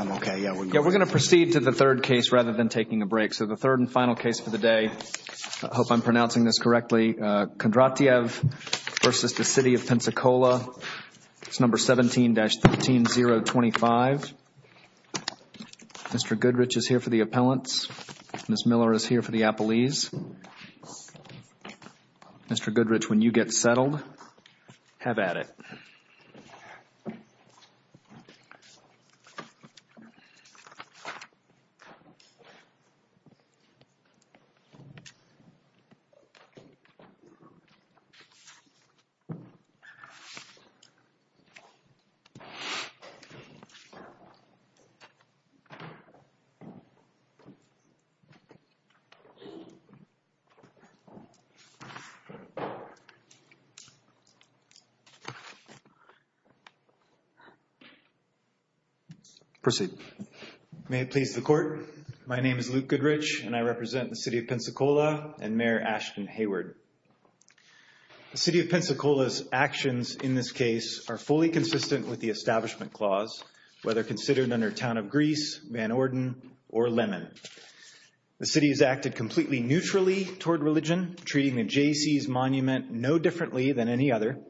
Yeah, we're going to proceed to the third case rather than taking a break. So the third and final case for the day, I hope I'm pronouncing this correctly, Kondrat'yev versus the City of Pensacola, it's number 17-13025. Mr. Goodrich is here for the appellants, Ms. Miller is here for the appellees. Mr. Goodrich, when you get settled, have at it. Proceed. May it please the Court, my name is Luke Goodrich, and I represent the City of Pensacola and Mayor Ashton Hayward. The City of Pensacola's actions in this case are fully consistent with the Establishment Clause, whether considered under Town of Greece, Van Orden, or Lemon. The City has acted completely neutrally toward religion, treating the Jaycees Monument no differently than any other.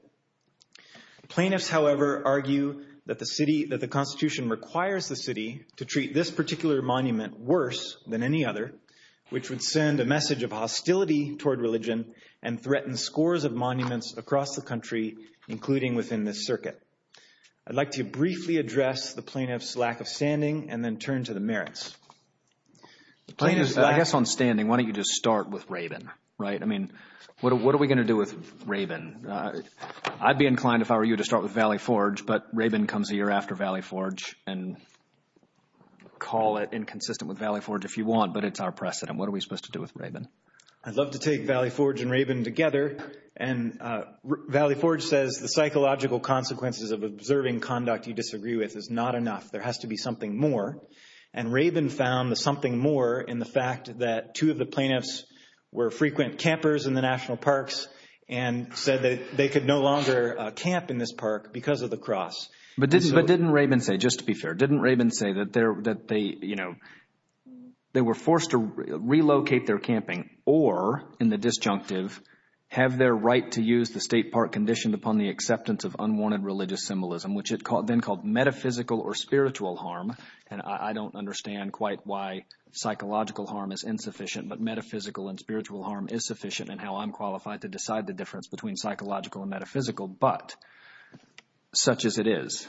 Plaintiffs, however, argue that the Constitution requires the City to treat this particular monument worse than any other, which would send a message of hostility toward religion and threaten scores of monuments across the country, including within this circuit. I'd like to briefly address the plaintiff's lack of standing and then turn to the merits. The plaintiff's lack of standing, why don't you just start with Rabin, right? I mean, what are we going to do with Rabin? I'd be inclined if I were you to start with Valley Forge, but Rabin comes a year after Valley Forge and call it inconsistent with Valley Forge if you want, but it's our precedent. What are we supposed to do with Rabin? I'd love to take Valley Forge and Rabin together. And Valley Forge says the psychological consequences of observing conduct you disagree with is not enough. There has to be something more. And Rabin found the something more in the fact that two of the plaintiffs were frequent campers in the national parks and said that they could no longer camp in this park because of the cross. But didn't Rabin say, just to be fair, didn't Rabin say that they were forced to relocate their camping or, in the disjunctive, have their right to use the state park conditioned upon the acceptance of unwanted religious symbolism, which it then called metaphysical or spiritual harm? And I don't understand quite why psychological harm is insufficient, but metaphysical and spiritual harm is sufficient in how I'm qualified to decide the difference between psychological and metaphysical, but such as it is.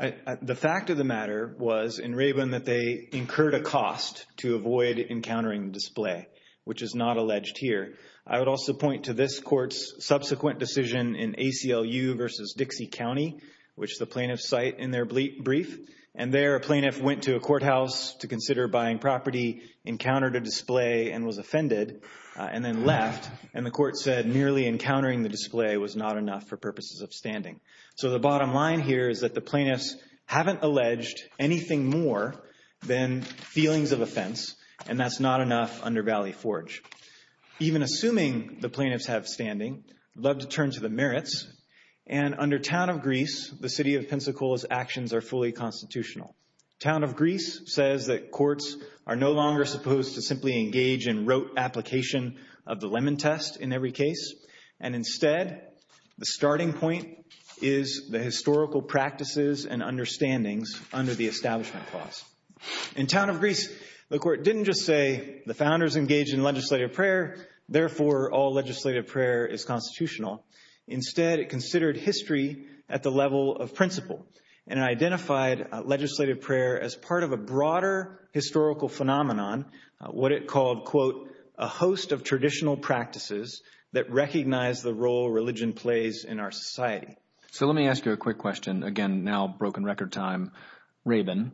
The fact of the matter was in Rabin that they incurred a cost to avoid encountering display, which is not alleged here. I would also point to this court's subsequent decision in ACLU versus Dixie County, which the plaintiffs cite in their brief. And there a plaintiff went to a courthouse to consider buying property, encountered a display and was offended, and then left. And the court said merely encountering the display was not enough for purposes of standing. So the bottom line here is that the plaintiffs haven't alleged anything more than feelings of offense, and that's not enough under Valley Forge. Even assuming the plaintiffs have standing, I'd love to turn to the merits. And under Town of Greece, the city of Pensacola's actions are fully constitutional. Town of Greece says that courts are no longer supposed to simply engage in rote application of the Lemon Test in every case, and instead the starting point is the historical practices and understandings under the Establishment Clause. In Town of Greece, the court didn't just say the founders engaged in legislative prayer, therefore all legislative prayer is constitutional. Instead, it considered history at the level of principle and identified legislative prayer as part of a broader historical phenomenon, what it called, quote, a host of traditional practices that recognize the role religion plays in our society. So let me ask you a quick question, again, now broken record time, Rabin,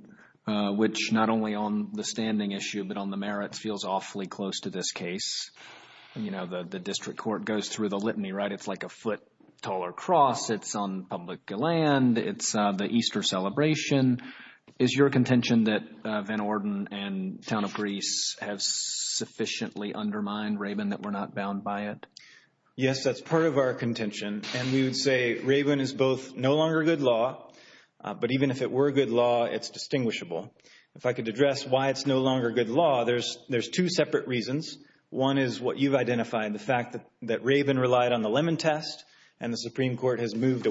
which not only on the standing issue but on the merits feels awfully close to this case. You know, the district court goes through the litany, right? It's like a foot taller cross. It's on public land. It's the Easter celebration. Is your contention that Van Orden and Town of Greece have sufficiently undermined Rabin that we're not bound by it? Yes, that's part of our contention, and we would say Rabin is both no longer good law, but even if it were good law, it's distinguishable. If I could address why it's no longer good law, there's two separate reasons. One is what you've identified, the fact that Rabin relied on the Lemon Test and the Supreme Court didn't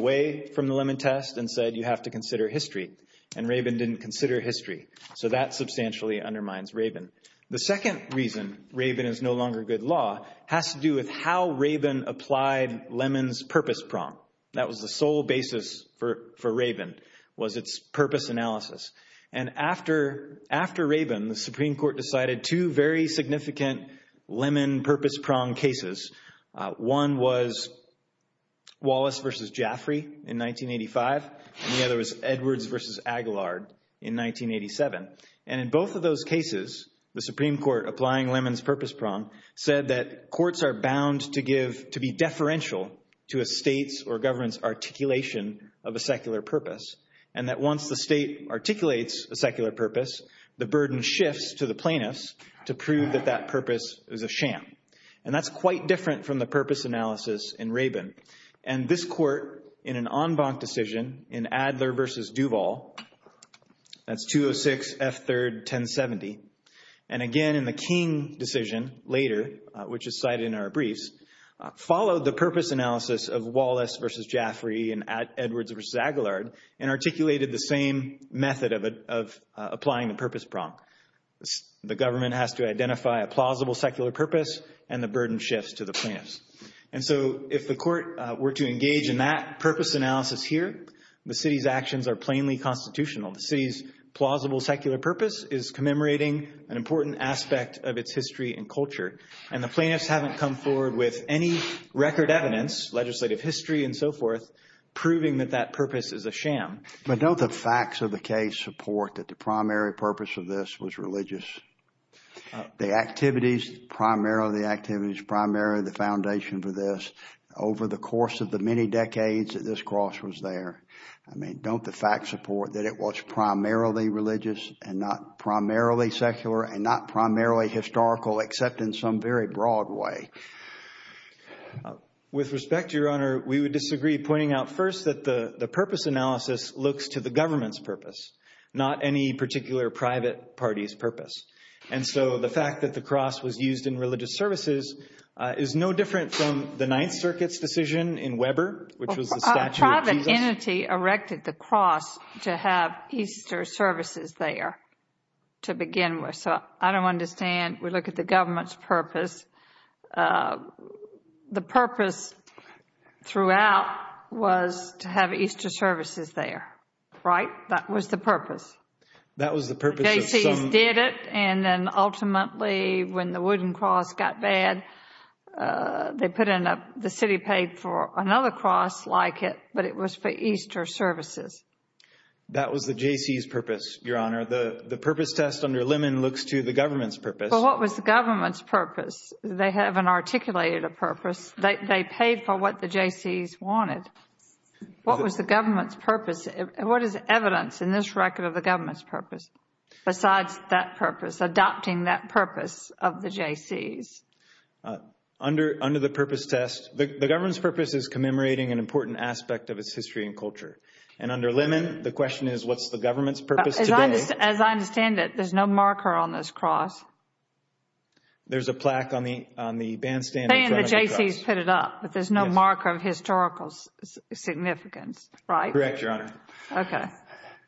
consider history, and Rabin didn't consider history. So that substantially undermines Rabin. The second reason Rabin is no longer good law has to do with how Rabin applied Lemon's purpose prong. That was the sole basis for Rabin, was its purpose analysis. And after Rabin, the Supreme Court decided two very significant Lemon purpose prong cases. One was Wallace versus Jaffrey in 1985, and the other was Edwards versus Aguilard in 1987. And in both of those cases, the Supreme Court, applying Lemon's purpose prong, said that courts are bound to give, to be deferential to a state's or government's articulation of a secular purpose, and that once the state articulates a secular purpose, the burden shifts to the plaintiffs to prove that that purpose is a sham. And that's quite different from the purpose analysis in Rabin. And this court, in an en banc decision in Adler versus Duval, that's 206 F. 3rd, 1070, and again in the King decision later, which is cited in our briefs, followed the purpose analysis of Wallace versus Jaffrey and Edwards versus Aguilard, and articulated the same method of applying the purpose prong. The government has to identify a plausible secular purpose, and the burden shifts to the plaintiffs. And so if the court were to engage in that purpose analysis here, the city's actions are plainly constitutional. The city's plausible secular purpose is commemorating an important aspect of its history and culture. And the plaintiffs haven't come forward with any record evidence, legislative history and so forth, proving that that purpose is a sham. But don't the facts of the case support that the primary purpose of this was religious? The activities, primarily the activities, primarily the foundation for this, over the course of the many decades that this cross was there, I mean, don't the facts support that it was primarily religious and not primarily secular and not primarily historical, except in some very broad way? With respect, Your Honor, we would disagree, pointing out first that the purpose analysis looks to the government's purpose, not any particular private party's purpose. And so the fact that the cross was used in religious services is no different from the Ninth Circuit's decision in Weber, which was the Statue of Jesus. A private entity erected the cross to have Easter services there, to begin with, so I don't understand. We look at the government's purpose. The purpose throughout was to have Easter services there, right? That was the purpose. That was the purpose. The Jaycees did it, and then ultimately, when the wooden cross got bad, they put in a, the city paid for another cross like it, but it was for Easter services. That was the Jaycees' purpose, Your Honor. The purpose test under Lemon looks to the government's purpose. But what was the government's purpose? They haven't articulated a purpose. They paid for what the Jaycees wanted. What was the government's purpose? What is evidence in this record of the government's purpose, besides that purpose, adopting that purpose of the Jaycees? Under the purpose test, the government's purpose is commemorating an important aspect of its history and culture. And under Lemon, the question is, what's the government's purpose today? As I understand it, there's no marker on this cross. There's a plaque on the bandstand in front of the cross. The Jaycees put it up, but there's no marker of historical significance, right? Correct, Your Honor. Okay.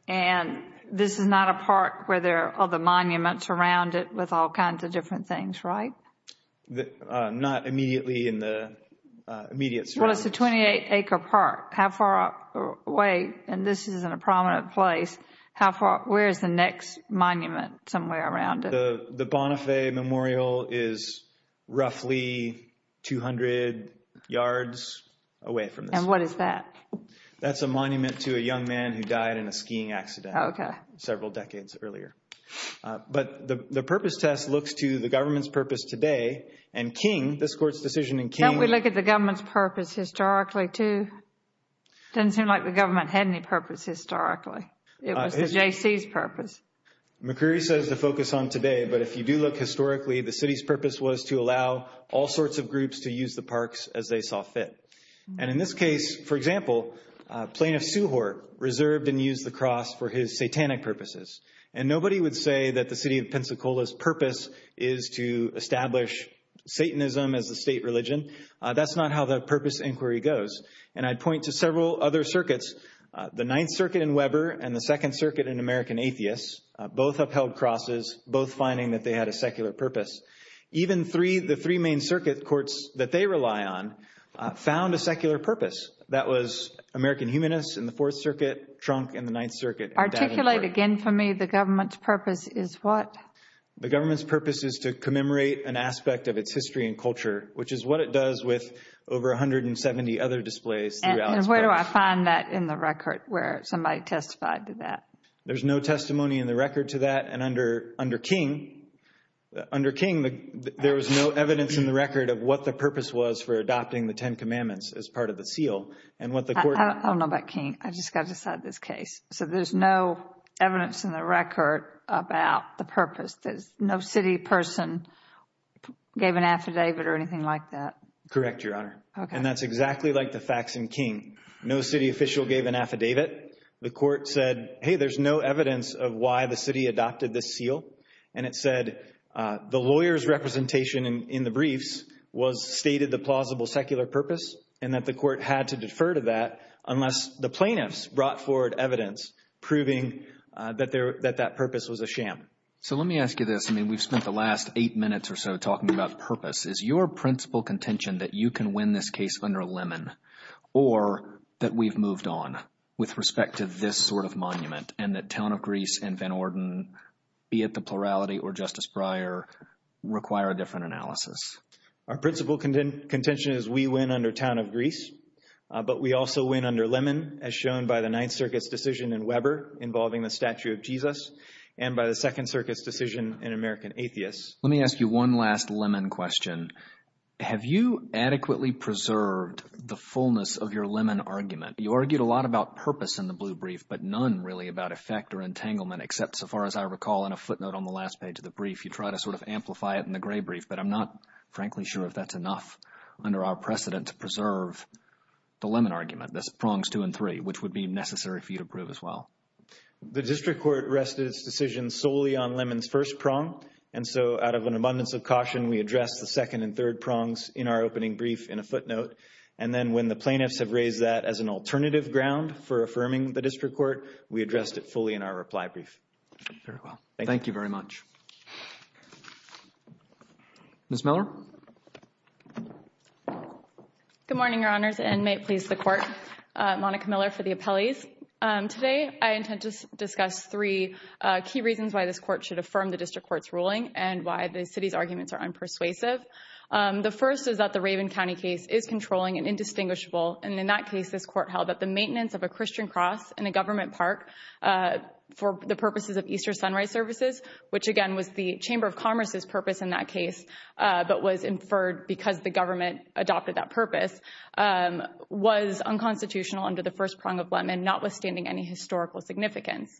And this is not a park where there are all the monuments around it with all kinds of different things, right? Not immediately in the immediate surroundings. Well, it's a 28-acre park. How far away, and this isn't a prominent place, where's the next monument somewhere around it? The Bonifay Memorial is roughly 200 yards away from this. And what is that? That's a monument to a young man who died in a skiing accident several decades earlier. But the purpose test looks to the government's purpose today, and King, this Court's decision in King— It doesn't seem like the government had any purpose historically. It was the Jaycees' purpose. McCreary says to focus on today, but if you do look historically, the city's purpose was to allow all sorts of groups to use the parks as they saw fit. And in this case, for example, Plaintiff Sewhart reserved and used the cross for his satanic purposes. And nobody would say that the city of Pensacola's purpose is to establish Satanism as a state religion. That's not how the purpose inquiry goes. And I'd point to several other circuits, the Ninth Circuit in Weber and the Second Circuit in American Atheists, both upheld crosses, both finding that they had a secular purpose. Even the three main circuit courts that they rely on found a secular purpose. That was American Humanists in the Fourth Circuit, Trunk in the Ninth Circuit, and Davenport— Articulate again for me the government's purpose is what? The government's purpose is to commemorate an aspect of its history and culture, which is what it does with over 170 other displays throughout its purpose. And where do I find that in the record where somebody testified to that? There's no testimony in the record to that. And under King, there was no evidence in the record of what the purpose was for adopting the Ten Commandments as part of the seal. And what the court— I don't know about King. I've just got to decide this case. So there's no evidence in the record about the purpose. No city person gave an affidavit or anything like that? Correct, Your Honor. And that's exactly like the facts in King. No city official gave an affidavit. The court said, hey, there's no evidence of why the city adopted this seal. And it said the lawyer's representation in the briefs stated the plausible secular purpose and that the court had to defer to that unless the plaintiffs brought forward evidence proving that that purpose was a sham. So let me ask you this. I mean, we've spent the last eight minutes or so talking about purpose. Is your principal contention that you can win this case under Lemon or that we've moved on with respect to this sort of monument and that Town of Greece and Van Orden, be it the plurality or Justice Breyer, require a different analysis? Our principal contention is we win under Town of Greece, but we also win under Lemon as shown by the Ninth Circuit's decision in Weber involving the statue of Jesus and by the Second Circuit's decision in American Atheists. Let me ask you one last Lemon question. Have you adequately preserved the fullness of your Lemon argument? You argued a lot about purpose in the Blue Brief, but none really about effect or entanglement except so far as I recall in a footnote on the last page of the brief. You try to sort of amplify it in the Gray Brief, but I'm not frankly sure if that's enough under our precedent to preserve the Lemon argument, the prongs two and three, which would be necessary for you to prove as well. The District Court rested its decision solely on Lemon's first prong, and so out of an abundance of caution, we addressed the second and third prongs in our opening brief in a footnote. And then when the plaintiffs have raised that as an alternative ground for affirming the District Court, we addressed it fully in our reply brief. Very well. Thank you. Thank you very much. Ms. Miller? Good morning, Your Honors, and may it please the Court. Monica Miller for the appellees. Today, I intend to discuss three key reasons why this Court should affirm the District Court's ruling and why the City's arguments are unpersuasive. The first is that the Raven County case is controlling and indistinguishable, and in that case, this Court held that the maintenance of a Christian cross in a government park for the purposes of Easter Sunrise Services, which again was the Chamber of Commerce's purpose in that case, but was inferred because the government adopted that purpose, was unconstitutional under the first prong of Lemon, notwithstanding any historical significance.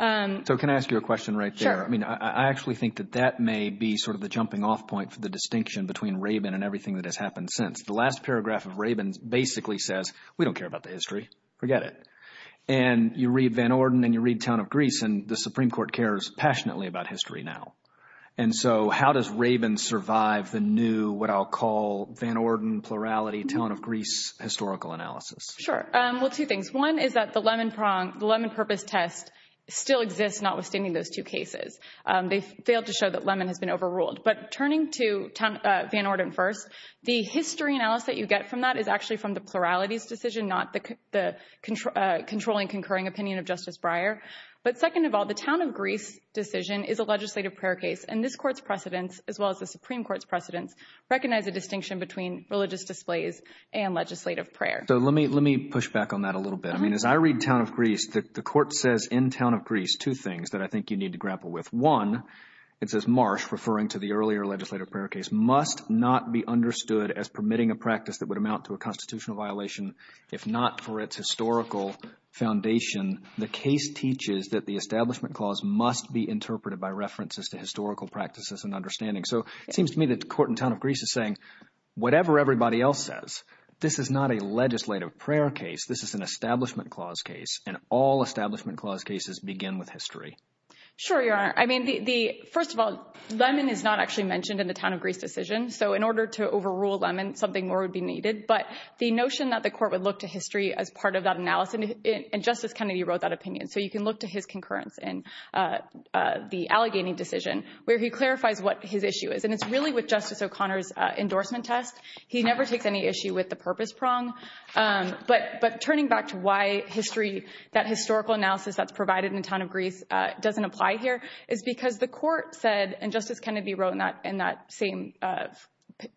So can I ask you a question right there? Sure. I mean, I actually think that that may be sort of the jumping off point for the distinction between Raven and everything that has happened since. The last paragraph of Raven basically says, we don't care about the history, forget it. And you read Van Orden and you read Town of Greece, and the Supreme Court cares passionately about history now. And so how does Raven survive the new, what I'll call Van Orden, plurality, Town of Greece historical analysis? Sure. Well, two things. One is that the Lemon prong, the Lemon purpose test, still exists, notwithstanding those two cases. They failed to show that Lemon has been overruled. But turning to Van Orden first, the history analysis that you get from that is actually from the pluralities decision, not the controlling, concurring opinion of Justice Breyer. But second of all, the Town of Greece decision is a legislative prayer case, and this Court's precedents, as well as the Supreme Court's precedents, recognize a distinction between religious displays and legislative prayer. So let me push back on that a little bit. I mean, as I read Town of Greece, the Court says in Town of Greece two things that I think you need to grapple with. One, it says Marsh, referring to the earlier legislative prayer case, must not be understood as permitting a practice that would amount to a constitutional violation if not for its historical foundation. The case teaches that the establishment clause must be interpreted by references to historical practices and understanding. So it seems to me that the Court in Town of Greece is saying, whatever everybody else says, this is not a legislative prayer case. This is an establishment clause case, and all establishment clause cases begin with history. Sure, Your Honor. I mean, first of all, Lemon is not actually mentioned in the Town of Greece decision. So in order to overrule Lemon, something more would be needed. But the notion that the Court would look to history as part of that analysis, and Justice Kennedy wrote that opinion. So you can look to his concurrence in the Allegheny decision, where he clarifies what his issue is. And it's really with Justice O'Connor's endorsement test. He never takes any issue with the purpose prong. But turning back to why that historical analysis that's provided in Town of Greece doesn't apply here is because the Court said, and Justice Kennedy wrote in that same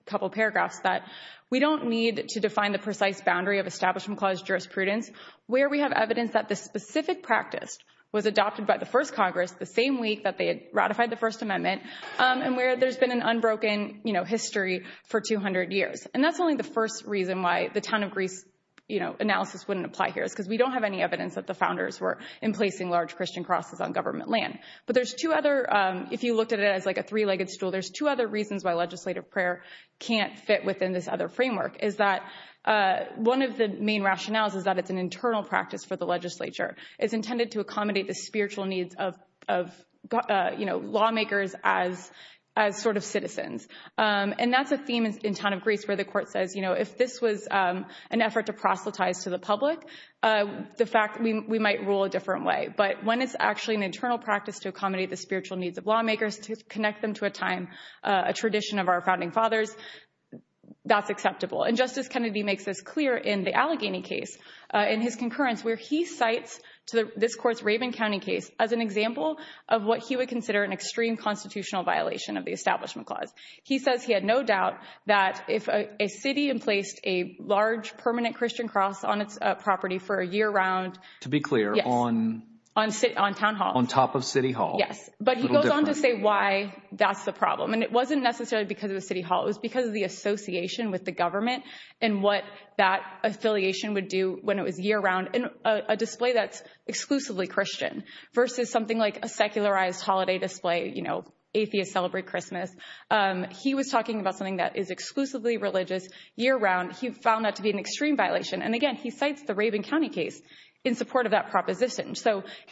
couple paragraphs, that we don't need to define the precise boundary of establishment clause jurisprudence where we have evidence that the specific practice was adopted by the first Congress the same week that they had ratified the First Amendment, and where there's been an unbroken history for 200 years. And that's only the first reason why the Town of Greece, you know, analysis wouldn't apply here is because we don't have any evidence that the founders were in placing large Christian crosses on government land. But there's two other, if you looked at it as like a three-legged stool, there's two other reasons why legislative prayer can't fit within this other framework, is that one of the main rationales is that it's an internal practice for the legislature. It's intended to accommodate the spiritual needs of, you know, lawmakers as sort of citizens. And that's a theme in Town of Greece where the Court says, you know, if this was an effort to proselytize to the public, the fact we might rule a different way. But when it's actually an internal practice to accommodate the spiritual needs of lawmakers, to connect them to a time, a tradition of our founding fathers, that's acceptable. And Justice Kennedy makes this clear in the Allegheny case, in his concurrence, where he cites this Court's Raven County case as an example of what he would consider an extreme constitutional violation of the Establishment Clause. He says he had no doubt that if a city emplaced a large permanent Christian cross on its property for a year-round... Yes. To be clear, on... On Town Hall. On top of City Hall. Yes. A little different. But he goes on to say why that's the problem. And it wasn't necessarily because of the City Hall, it was because of the association with the government and what that affiliation would do when it was year-round in a display that's a secularized holiday display, you know, atheists celebrate Christmas. He was talking about something that is exclusively religious year-round. He found that to be an extreme violation. And again, he cites the Raven County case in support of that proposition.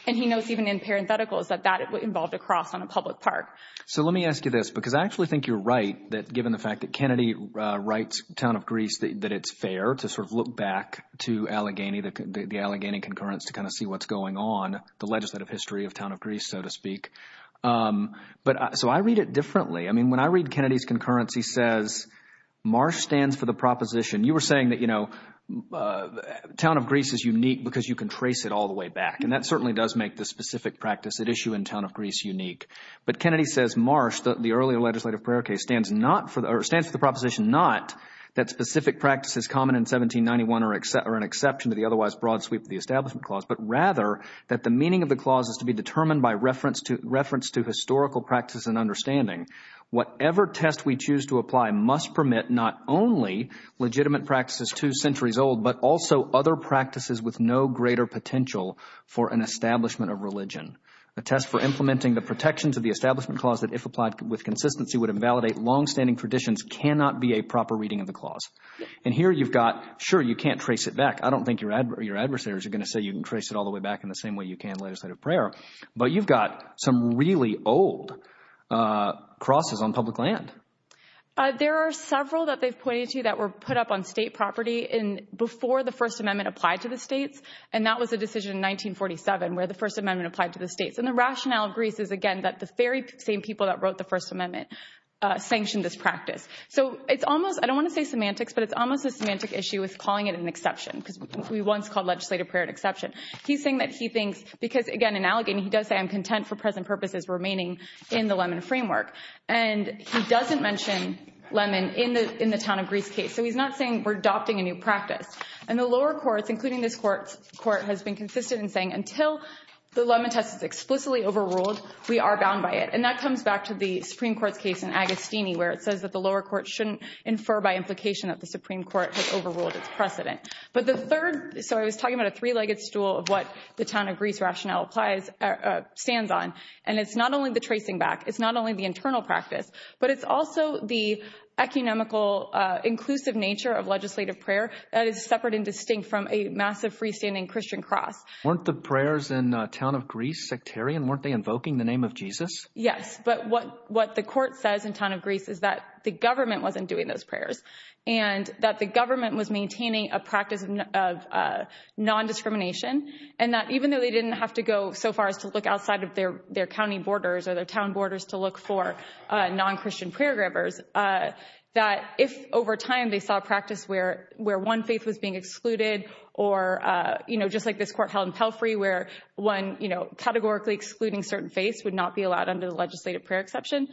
And he knows even in parentheticals that that involved a cross on a public park. So let me ask you this, because I actually think you're right, that given the fact that Kennedy writes Town of Greece that it's fair to sort of look back to Allegheny, the Allegheny concurrence, to kind of see what's going on, the legislative history of Town of Greece so to speak. So I read it differently. I mean, when I read Kennedy's concurrence, he says Marsh stands for the proposition. You were saying that, you know, Town of Greece is unique because you can trace it all the way back. And that certainly does make the specific practice at issue in Town of Greece unique. But Kennedy says Marsh, the earlier legislative prayer case, stands for the proposition not that specific practice is common in 1791 or an exception to the otherwise broad sweep of the Establishment Clause, but rather that the meaning of the clause is to be determined by reference to historical practice and understanding. Whatever test we choose to apply must permit not only legitimate practices two centuries old, but also other practices with no greater potential for an establishment of religion. A test for implementing the protections of the Establishment Clause that if applied with consistency would invalidate longstanding traditions cannot be a proper reading of the clause. And here you've got, sure, you can't trace it back. I don't think your adversaries are going to say you can trace it all the way back in the same way you can legislative prayer. But you've got some really old crosses on public land. There are several that they've pointed to that were put up on state property in before the First Amendment applied to the states. And that was a decision in 1947 where the First Amendment applied to the states. And the rationale of Greece is, again, that the very same people that wrote the First Amendment sanctioned this practice. So it's almost I don't want to say semantics, but it's almost a semantic issue with calling it an exception because we once called legislative prayer an exception. He's saying that he thinks because, again, in Allegheny, he does say I'm content for present purposes remaining in the lemon framework. And he doesn't mention lemon in the in the town of Greece case. So he's not saying we're adopting a new practice. And the lower courts, including this court's court, has been consistent in saying until the lemon test is explicitly overruled, we are bound by it. And that comes back to the Supreme Court's case in Agostini, where it says that the lower court shouldn't infer by implication that the Supreme Court has overruled its precedent. But the third. So I was talking about a three legged stool of what the town of Greece rationale applies, stands on. And it's not only the tracing back. It's not only the internal practice, but it's also the economical, inclusive nature of legislative prayer that is separate and distinct from a massive freestanding Christian cross. Weren't the prayers in the town of Greece sectarian? Weren't they invoking the name of Jesus? Yes. But what what the court says in town of Greece is that the government wasn't doing those prayers and that the government was maintaining a practice of non-discrimination and that even though they didn't have to go so far as to look outside of their their county borders or their town borders to look for non-Christian prayer grabbers, that if over time they saw a practice where where one faith was being excluded or, you know, just like this court held in Pelfrey, where one, you know, categorically excluding certain faiths would not be allowed under the legislative prayer exception,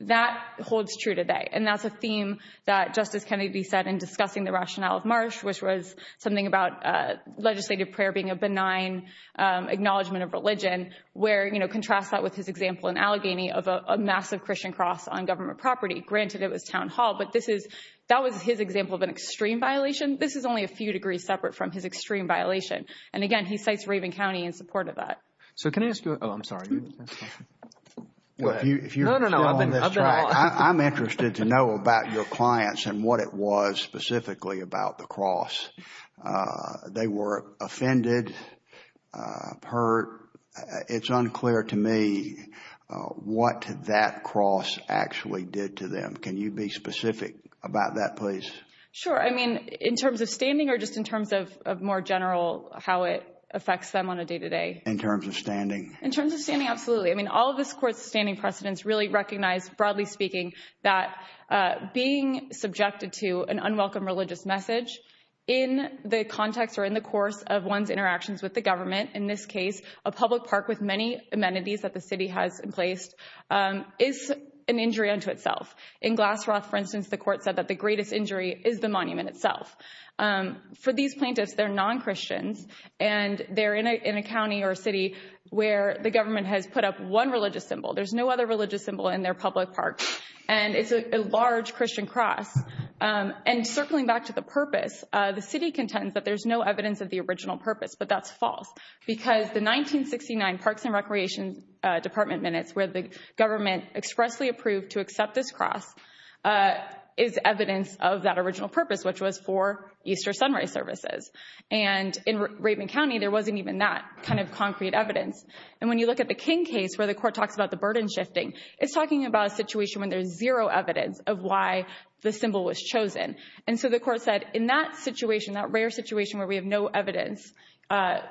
that holds true today. And that's a theme that Justice Kennedy said in discussing the rationale of Marsh, which was something about legislative prayer being a benign acknowledgment of religion, where, you know, contrast that with his example in Allegheny of a massive Christian cross on government property. Granted, it was Town Hall, but this is that was his example of an extreme violation. This is only a few degrees separate from his extreme violation. And again, he cites Raven County in support of that. So can I ask you? Oh, I'm sorry. Well, if you know, I'm interested to know about your clients and what it was specifically about the cross. They were offended, hurt. It's unclear to me what that cross actually did to them. Can you be specific about that, please? Sure. I mean, in terms of standing or just in terms of more general how it affects them on a day to day? In terms of standing? In terms of standing, absolutely. I mean, all of this court's standing precedents really recognize, broadly speaking, that being subjected to an unwelcome religious message in the context or in the course of one's interactions with the government, in this case, a public park with many amenities that the city has placed is an injury unto itself. In Glassroth, for instance, the court said that the greatest injury is the monument itself. For these plaintiffs, they're non-Christians and they're in a county or the government has put up one religious symbol. There's no other religious symbol in their public parks and it's a large Christian cross. And circling back to the purpose, the city contends that there's no evidence of the original purpose, but that's false because the 1969 Parks and Recreation Department minutes where the government expressly approved to accept this cross is evidence of that original purpose, which was for Easter sunrise services. And in Raymond County, there wasn't even that kind of concrete evidence. And when you look at the King case where the court talks about the burden shifting, it's talking about a situation when there's zero evidence of why the symbol was chosen. And so the court said in that situation, that rare situation where we have no evidence,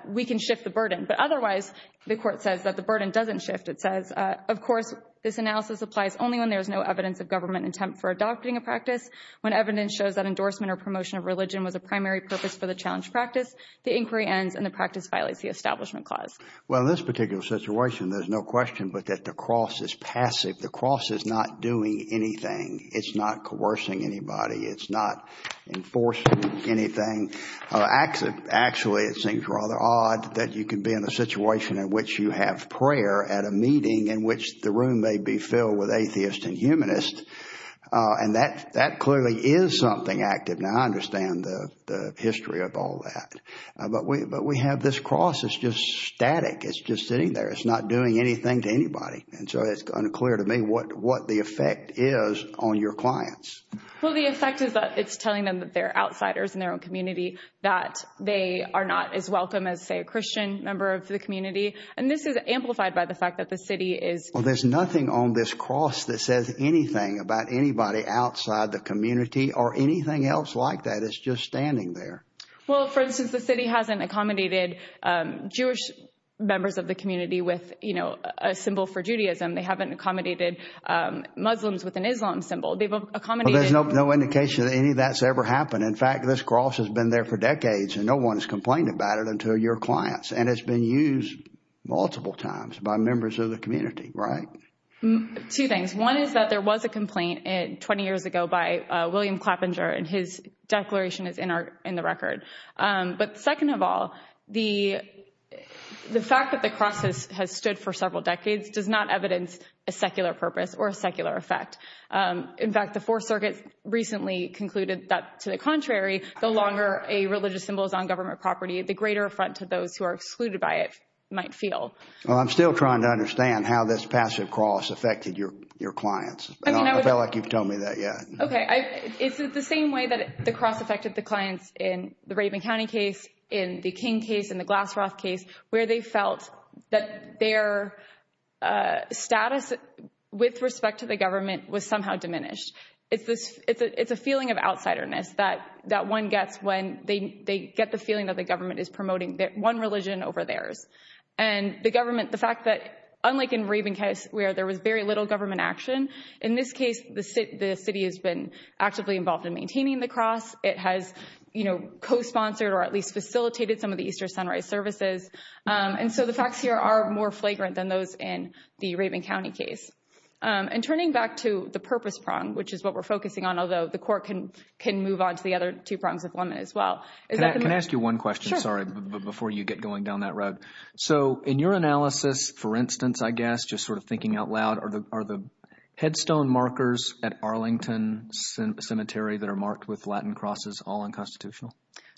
we can shift the burden. But otherwise, the court says that the burden doesn't shift. It says, of course, this analysis applies only when there is no evidence of government intent for adopting a practice. When evidence shows that endorsement or promotion of religion was a primary purpose for the challenge practice, the inquiry ends and the practice violates the Establishment Clause. Well, in this particular situation, there's no question but that the cross is passive. The cross is not doing anything. It's not coercing anybody. It's not enforcing anything. Actually, it seems rather odd that you can be in a situation in which you have prayer at a meeting in which the room may be filled with atheists and humanists. And that clearly is something active. Now, I understand the history of all that. But we have this cross. It's just static. It's just sitting there. It's not doing anything to anybody. And so it's unclear to me what the effect is on your clients. Well, the effect is that it's telling them that they're outsiders in their own community, that they are not as welcome as, say, a Christian member of the community. And this is amplified by the fact that the city is. Well, there's nothing on this cross that says anything about anybody outside the community or anything else like that. It's just standing there. Well, for instance, the city hasn't accommodated Jewish members of the community with a symbol for Judaism. They haven't accommodated Muslims with an Islam symbol. They've accommodated. There's no indication that any of that's ever happened. In fact, this cross has been there for decades and no one has complained about it until your clients and it's been used multiple times by members of the community. Right. Two things. One is that there was a complaint 20 years ago by William Clappinger and his declaration is in the record. But second of all, the fact that the cross has stood for several decades does not evidence a secular purpose or a secular effect. In fact, the Fourth Circuit recently concluded that to the contrary, the longer a religious symbol is on government property, the greater affront to those who are excluded by it might feel. Well, I'm still trying to understand how this passive cross affected your clients. I feel like you've told me that yet. OK. It's the same way that the cross affected the clients in the Raven County case, in the King case, in the Glassroth case, where they felt that their status with respect to the government was somehow diminished. It's this it's a feeling of outsiderness that that one gets when they get the feeling that the government is promoting that one religion over theirs and the government. The fact that unlike in Raven case where there was very little government action, in this case, the city has been actively involved in maintaining the cross. It has, you know, co-sponsored or at least facilitated some of the Easter sunrise services. And so the facts here are more flagrant than those in the Raven County case. And turning back to the purpose prong, which is what we're focusing on, although the court can can move on to the other two prongs of women as well. Can I ask you one question? Sorry, before you get going down that road. So in your analysis, for instance, I guess, just sort of thinking out loud, are the headstone markers at Arlington Cemetery that are marked with Latin crosses all unconstitutional?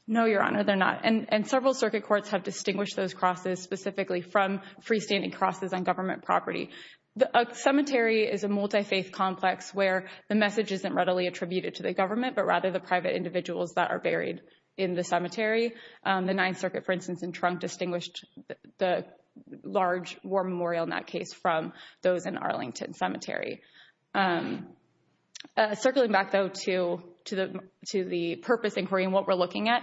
No, Your Honor, they're not. And several circuit courts have distinguished those crosses specifically from freestanding crosses on government property. The cemetery is a multi-faith complex where the message isn't readily attributed to the government, but rather the private individuals that are buried in the cemetery. The Ninth Circuit, for instance, in Trunk distinguished the large war burial in that case from those in Arlington Cemetery. Circling back, though, to to the to the purpose inquiry and what we're looking at,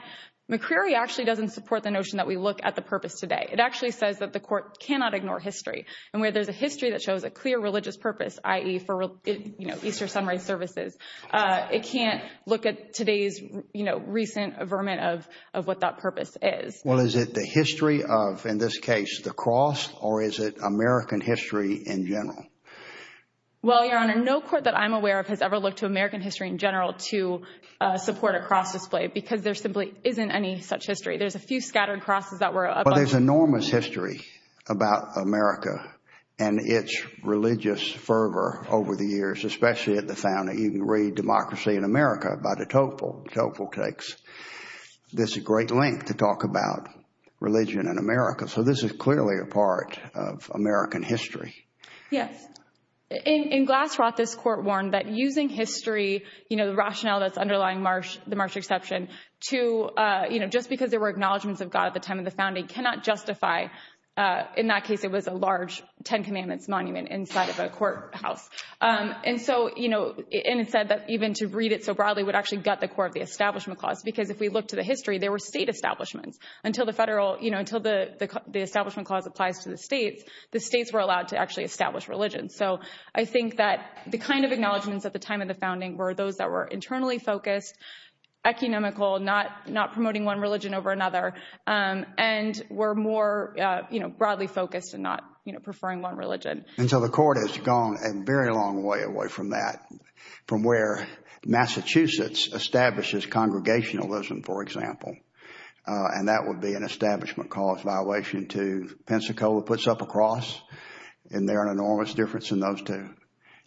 McCreary actually doesn't support the notion that we look at the purpose today. It actually says that the court cannot ignore history and where there's a history that shows a clear religious purpose, i.e. for Easter sunrise services. It can't look at today's recent vermin of of what that purpose is. Well, is it the history of, in this case, the cross or is it American history in general? Well, Your Honor, no court that I'm aware of has ever looked to American history in general to support a cross display because there simply isn't any such history. There's a few scattered crosses that were above. Well, there's enormous history about America and its religious fervor over the years, especially at the founding. You can read Democracy in America by de Tocqueville. De Tocqueville takes this great length to talk about religion in America. So this is clearly a part of American history. Yes. In Glassroth, this court warned that using history, you know, the rationale that's underlying the Marsh exception to, you know, just because there were acknowledgments of God at the time of the founding cannot justify. In that case, it was a large Ten Commandments monument inside of a courthouse. And so, you know, and it said that even to read it so broadly would actually gut the core of the Establishment Clause, because if we look to the history, there were state establishments until the federal, you know, until the Establishment Clause applies to the states, the states were allowed to actually establish religion. So I think that the kind of acknowledgments at the time of the founding were those that were internally focused, economical, not promoting one religion over another, and were more broadly focused and not preferring one religion. And so the court has gone a very long way away from that, from where Massachusetts establishes congregationalism, for example. And that would be an Establishment Clause violation to Pensacola puts up a cross. And they're an enormous difference in those two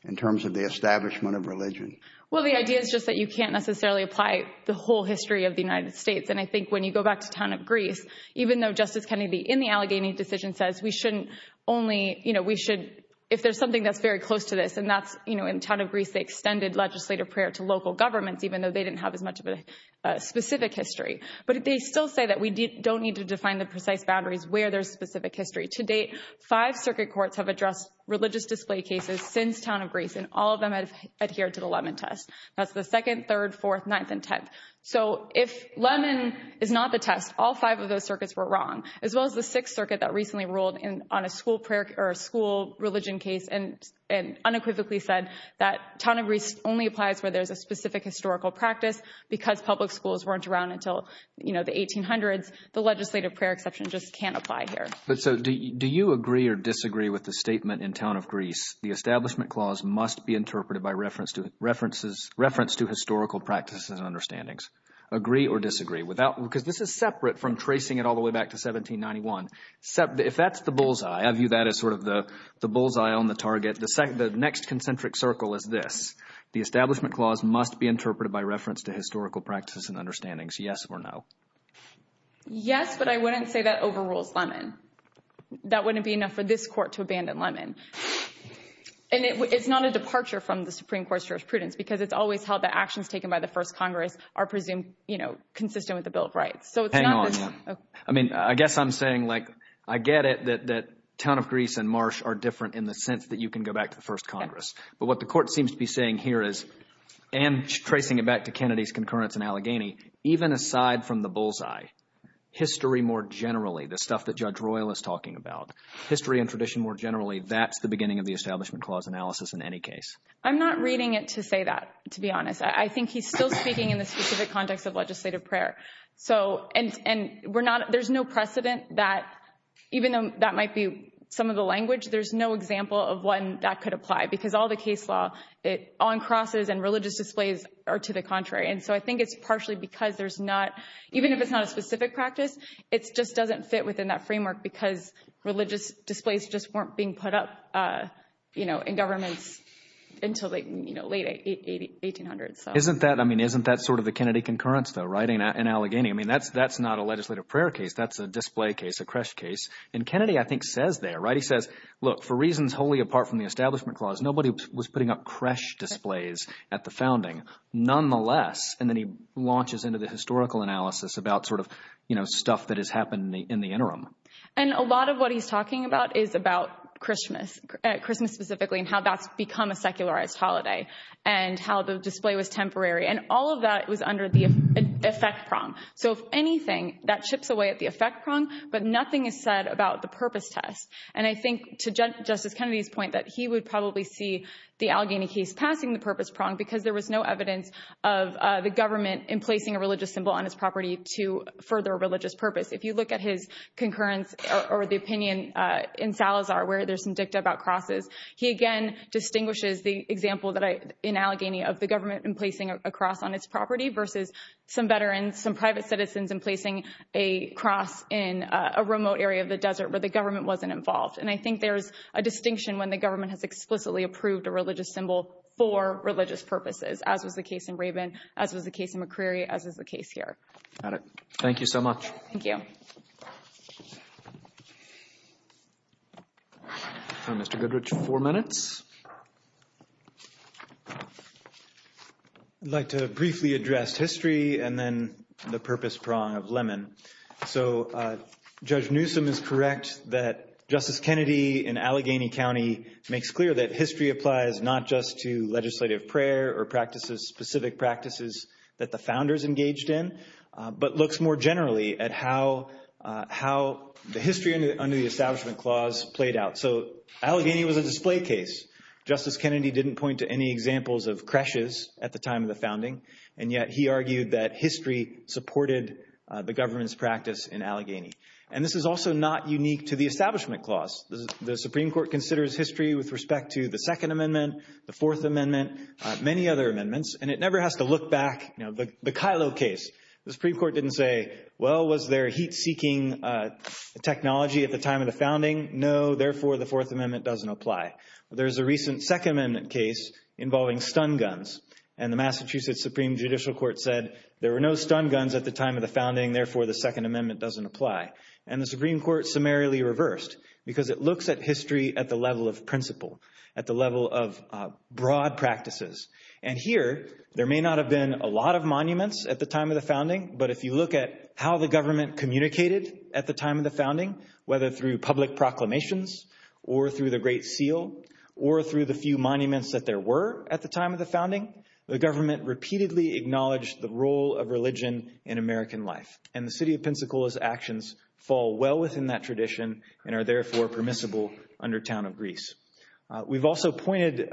in terms of the establishment of religion. Well, the idea is just that you can't necessarily apply the whole history of the United States. And I think when you go back to town of Greece, even though Justice Kennedy in the Allegheny decision says we shouldn't only, you know, we should, if there's something that's very close to this, and that's, you know, in town of Greece, they extended legislative prayer to local governments, even though they didn't have as much of a specific history. But they still say that we don't need to define the precise boundaries where there's specific history. To date, five circuit courts have addressed religious display cases since town of Greece, and all of them have adhered to the Lemon Test. That's the second, third, fourth, ninth and tenth. So if Lemon is not the test, all five of those circuits were wrong, as well as the school prayer or school religion case and unequivocally said that town of Greece only applies where there's a specific historical practice because public schools weren't around until, you know, the 1800s. The legislative prayer exception just can't apply here. But so do you agree or disagree with the statement in town of Greece, the establishment clause must be interpreted by reference to historical practices and understandings? Agree or disagree? Because this is separate from tracing it all the way back to 1791. Except if that's the bullseye, I view that as sort of the bullseye on the target. The next concentric circle is this. The establishment clause must be interpreted by reference to historical practices and understandings. Yes or no? Yes, but I wouldn't say that overrules Lemon. That wouldn't be enough for this court to abandon Lemon. And it's not a departure from the Supreme Court's jurisprudence because it's always held that actions taken by the first Congress are presumed, you know, consistent with the Bill of Rights. So it's not. I mean, I guess I'm saying, like, I get it that that town of Greece and Marsh are different in the sense that you can go back to the first Congress. But what the court seems to be saying here is and tracing it back to Kennedy's concurrence in Allegheny, even aside from the bullseye, history more generally, the stuff that Judge Royal is talking about, history and tradition more generally, that's the beginning of the establishment clause analysis in any case. I'm not reading it to say that, to be honest. I think he's still speaking in the specific context of legislative prayer. So and we're not there's no precedent that even though that might be some of the language, there's no example of one that could apply because all the case law on crosses and religious displays are to the contrary. And so I think it's partially because there's not even if it's not a specific practice, it's just doesn't fit within that framework because religious displays just weren't being put up, you know, in governments until, you know, late 1800s. Isn't that I mean, isn't that sort of the Kennedy concurrence, though? Sitting in Allegheny, I mean, that's that's not a legislative prayer case. That's a display case, a crash case. And Kennedy, I think, says they're right. He says, look, for reasons wholly apart from the establishment clause, nobody was putting up crash displays at the founding nonetheless. And then he launches into the historical analysis about sort of, you know, stuff that has happened in the interim. And a lot of what he's talking about is about Christmas, Christmas specifically, and how that's become a secularized holiday and how the display was temporary. And all of that was under the effect prong. So if anything, that chips away at the effect prong. But nothing is said about the purpose test. And I think to Justice Kennedy's point that he would probably see the Allegheny case passing the purpose prong because there was no evidence of the government in placing a religious symbol on his property to further a religious purpose. If you look at his concurrence or the opinion in Salazar, where there's some dicta about crosses, he again distinguishes the example that I in Allegheny of the cross on its property versus some veterans, some private citizens in placing a cross in a remote area of the desert where the government wasn't involved. And I think there's a distinction when the government has explicitly approved a religious symbol for religious purposes, as was the case in Rabin, as was the case in McCreary, as is the case here. Got it. Thank you so much. Thank you. Mr. Goodrich, four minutes. I'd like to briefly address history and then the purpose prong of Lemon. So Judge Newsom is correct that Justice Kennedy in Allegheny County makes clear that history applies not just to legislative prayer or practices, specific practices that the founders engaged in, but looks more generally at how how the history under the establishment clause played out. So Allegheny was a display case. Justice Kennedy didn't point to any examples of creches at the time of the founding. And yet he argued that history supported the government's practice in Allegheny. And this is also not unique to the establishment clause. The Supreme Court considers history with respect to the Second Amendment, the Fourth Amendment, many other amendments. And it never has to look back. Now, the Kilo case, the Supreme Court didn't say, well, was there heat seeking technology at the time of the founding? No. Therefore, the Fourth Amendment doesn't apply. There is a recent Second Amendment case involving stun guns. And the Massachusetts Supreme Judicial Court said there were no stun guns at the time of the founding. Therefore, the Second Amendment doesn't apply. And the Supreme Court summarily reversed because it looks at history at the level of principle, at the level of broad practices. And here, there may not have been a lot of monuments at the time of the founding. Whether through public proclamations or through the Great Seal or through the few monuments that there were at the time of the founding, the government repeatedly acknowledged the role of religion in American life. And the city of Pensacola's actions fall well within that tradition and are therefore permissible under Town of Greece. We've also pointed,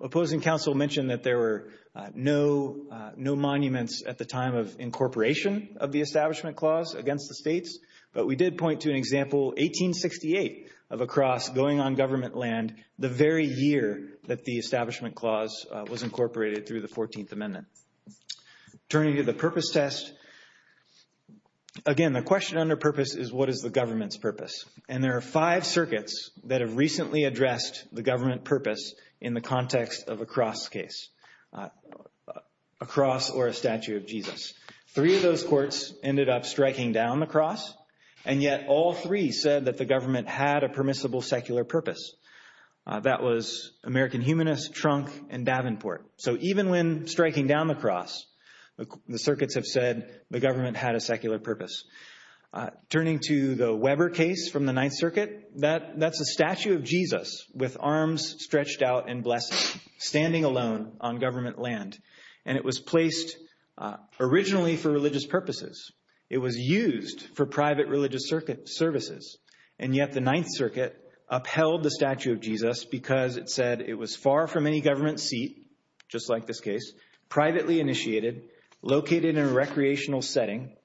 opposing counsel mentioned that there were no, no monuments at the time of incorporation of the establishment clause against the states. But we did point to an example, 1868, of a cross going on government land the very year that the establishment clause was incorporated through the 14th Amendment. Turning to the purpose test, again, the question under purpose is what is the government's purpose? And there are five circuits that have recently addressed the government purpose in the context of a cross case, a cross or a statue of Jesus. Three of those courts ended up striking down the cross, and yet all three said that the government had a permissible secular purpose. That was American Humanist, Trunk, and Davenport. So even when striking down the cross, the circuits have said the government had a secular purpose. Turning to the Weber case from the Ninth Circuit, that's a statue of Jesus with arms stretched out and blessed, standing alone on government land. And it was placed originally for religious purposes. It was used for private religious services. And yet the Ninth Circuit upheld the statue of Jesus because it said it was far from any government seat, just like this case, privately initiated, located in a recreational setting,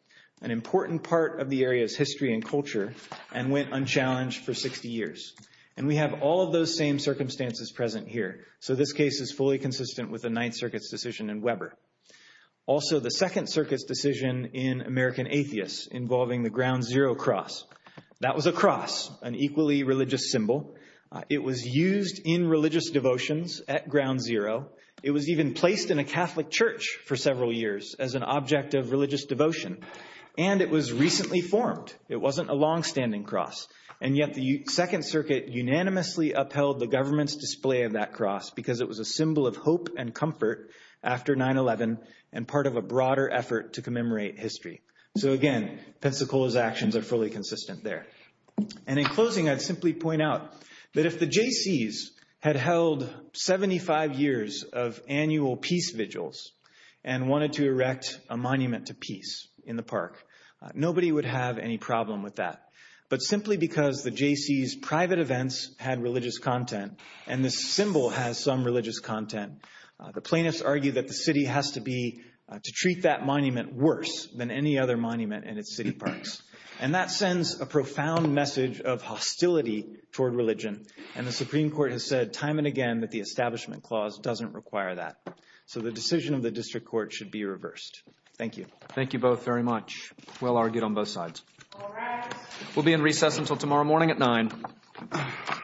an important part of the area's history and culture, and went unchallenged for 60 years. And we have all of those same circumstances present here. So this case is fully consistent with the Ninth Circuit's decision in Weber. Also, the Second Circuit's decision in American Atheists involving the Ground Zero Cross. That was a cross, an equally religious symbol. It was used in religious devotions at Ground Zero. It was even placed in a Catholic church for several years as an object of religious devotion. And it was recently formed. It wasn't a longstanding cross. And yet the Second Circuit unanimously upheld the government's display of that cross because it was a symbol of hope and comfort after 9-11 and part of a broader effort to commemorate history. So again, Pensacola's actions are fully consistent there. And in closing, I'd simply point out that if the Jaycees had held 75 years of annual peace vigils and wanted to erect a monument to peace in the park, nobody would have any because the Jaycees' private events had religious content and this symbol has some religious content. The plaintiffs argue that the city has to be to treat that monument worse than any other monument in its city parks. And that sends a profound message of hostility toward religion. And the Supreme Court has said time and again that the Establishment Clause doesn't require that. So the decision of the district court should be reversed. Thank you. Thank you both very much. Well argued on both sides. We'll be in recess until tomorrow morning at nine.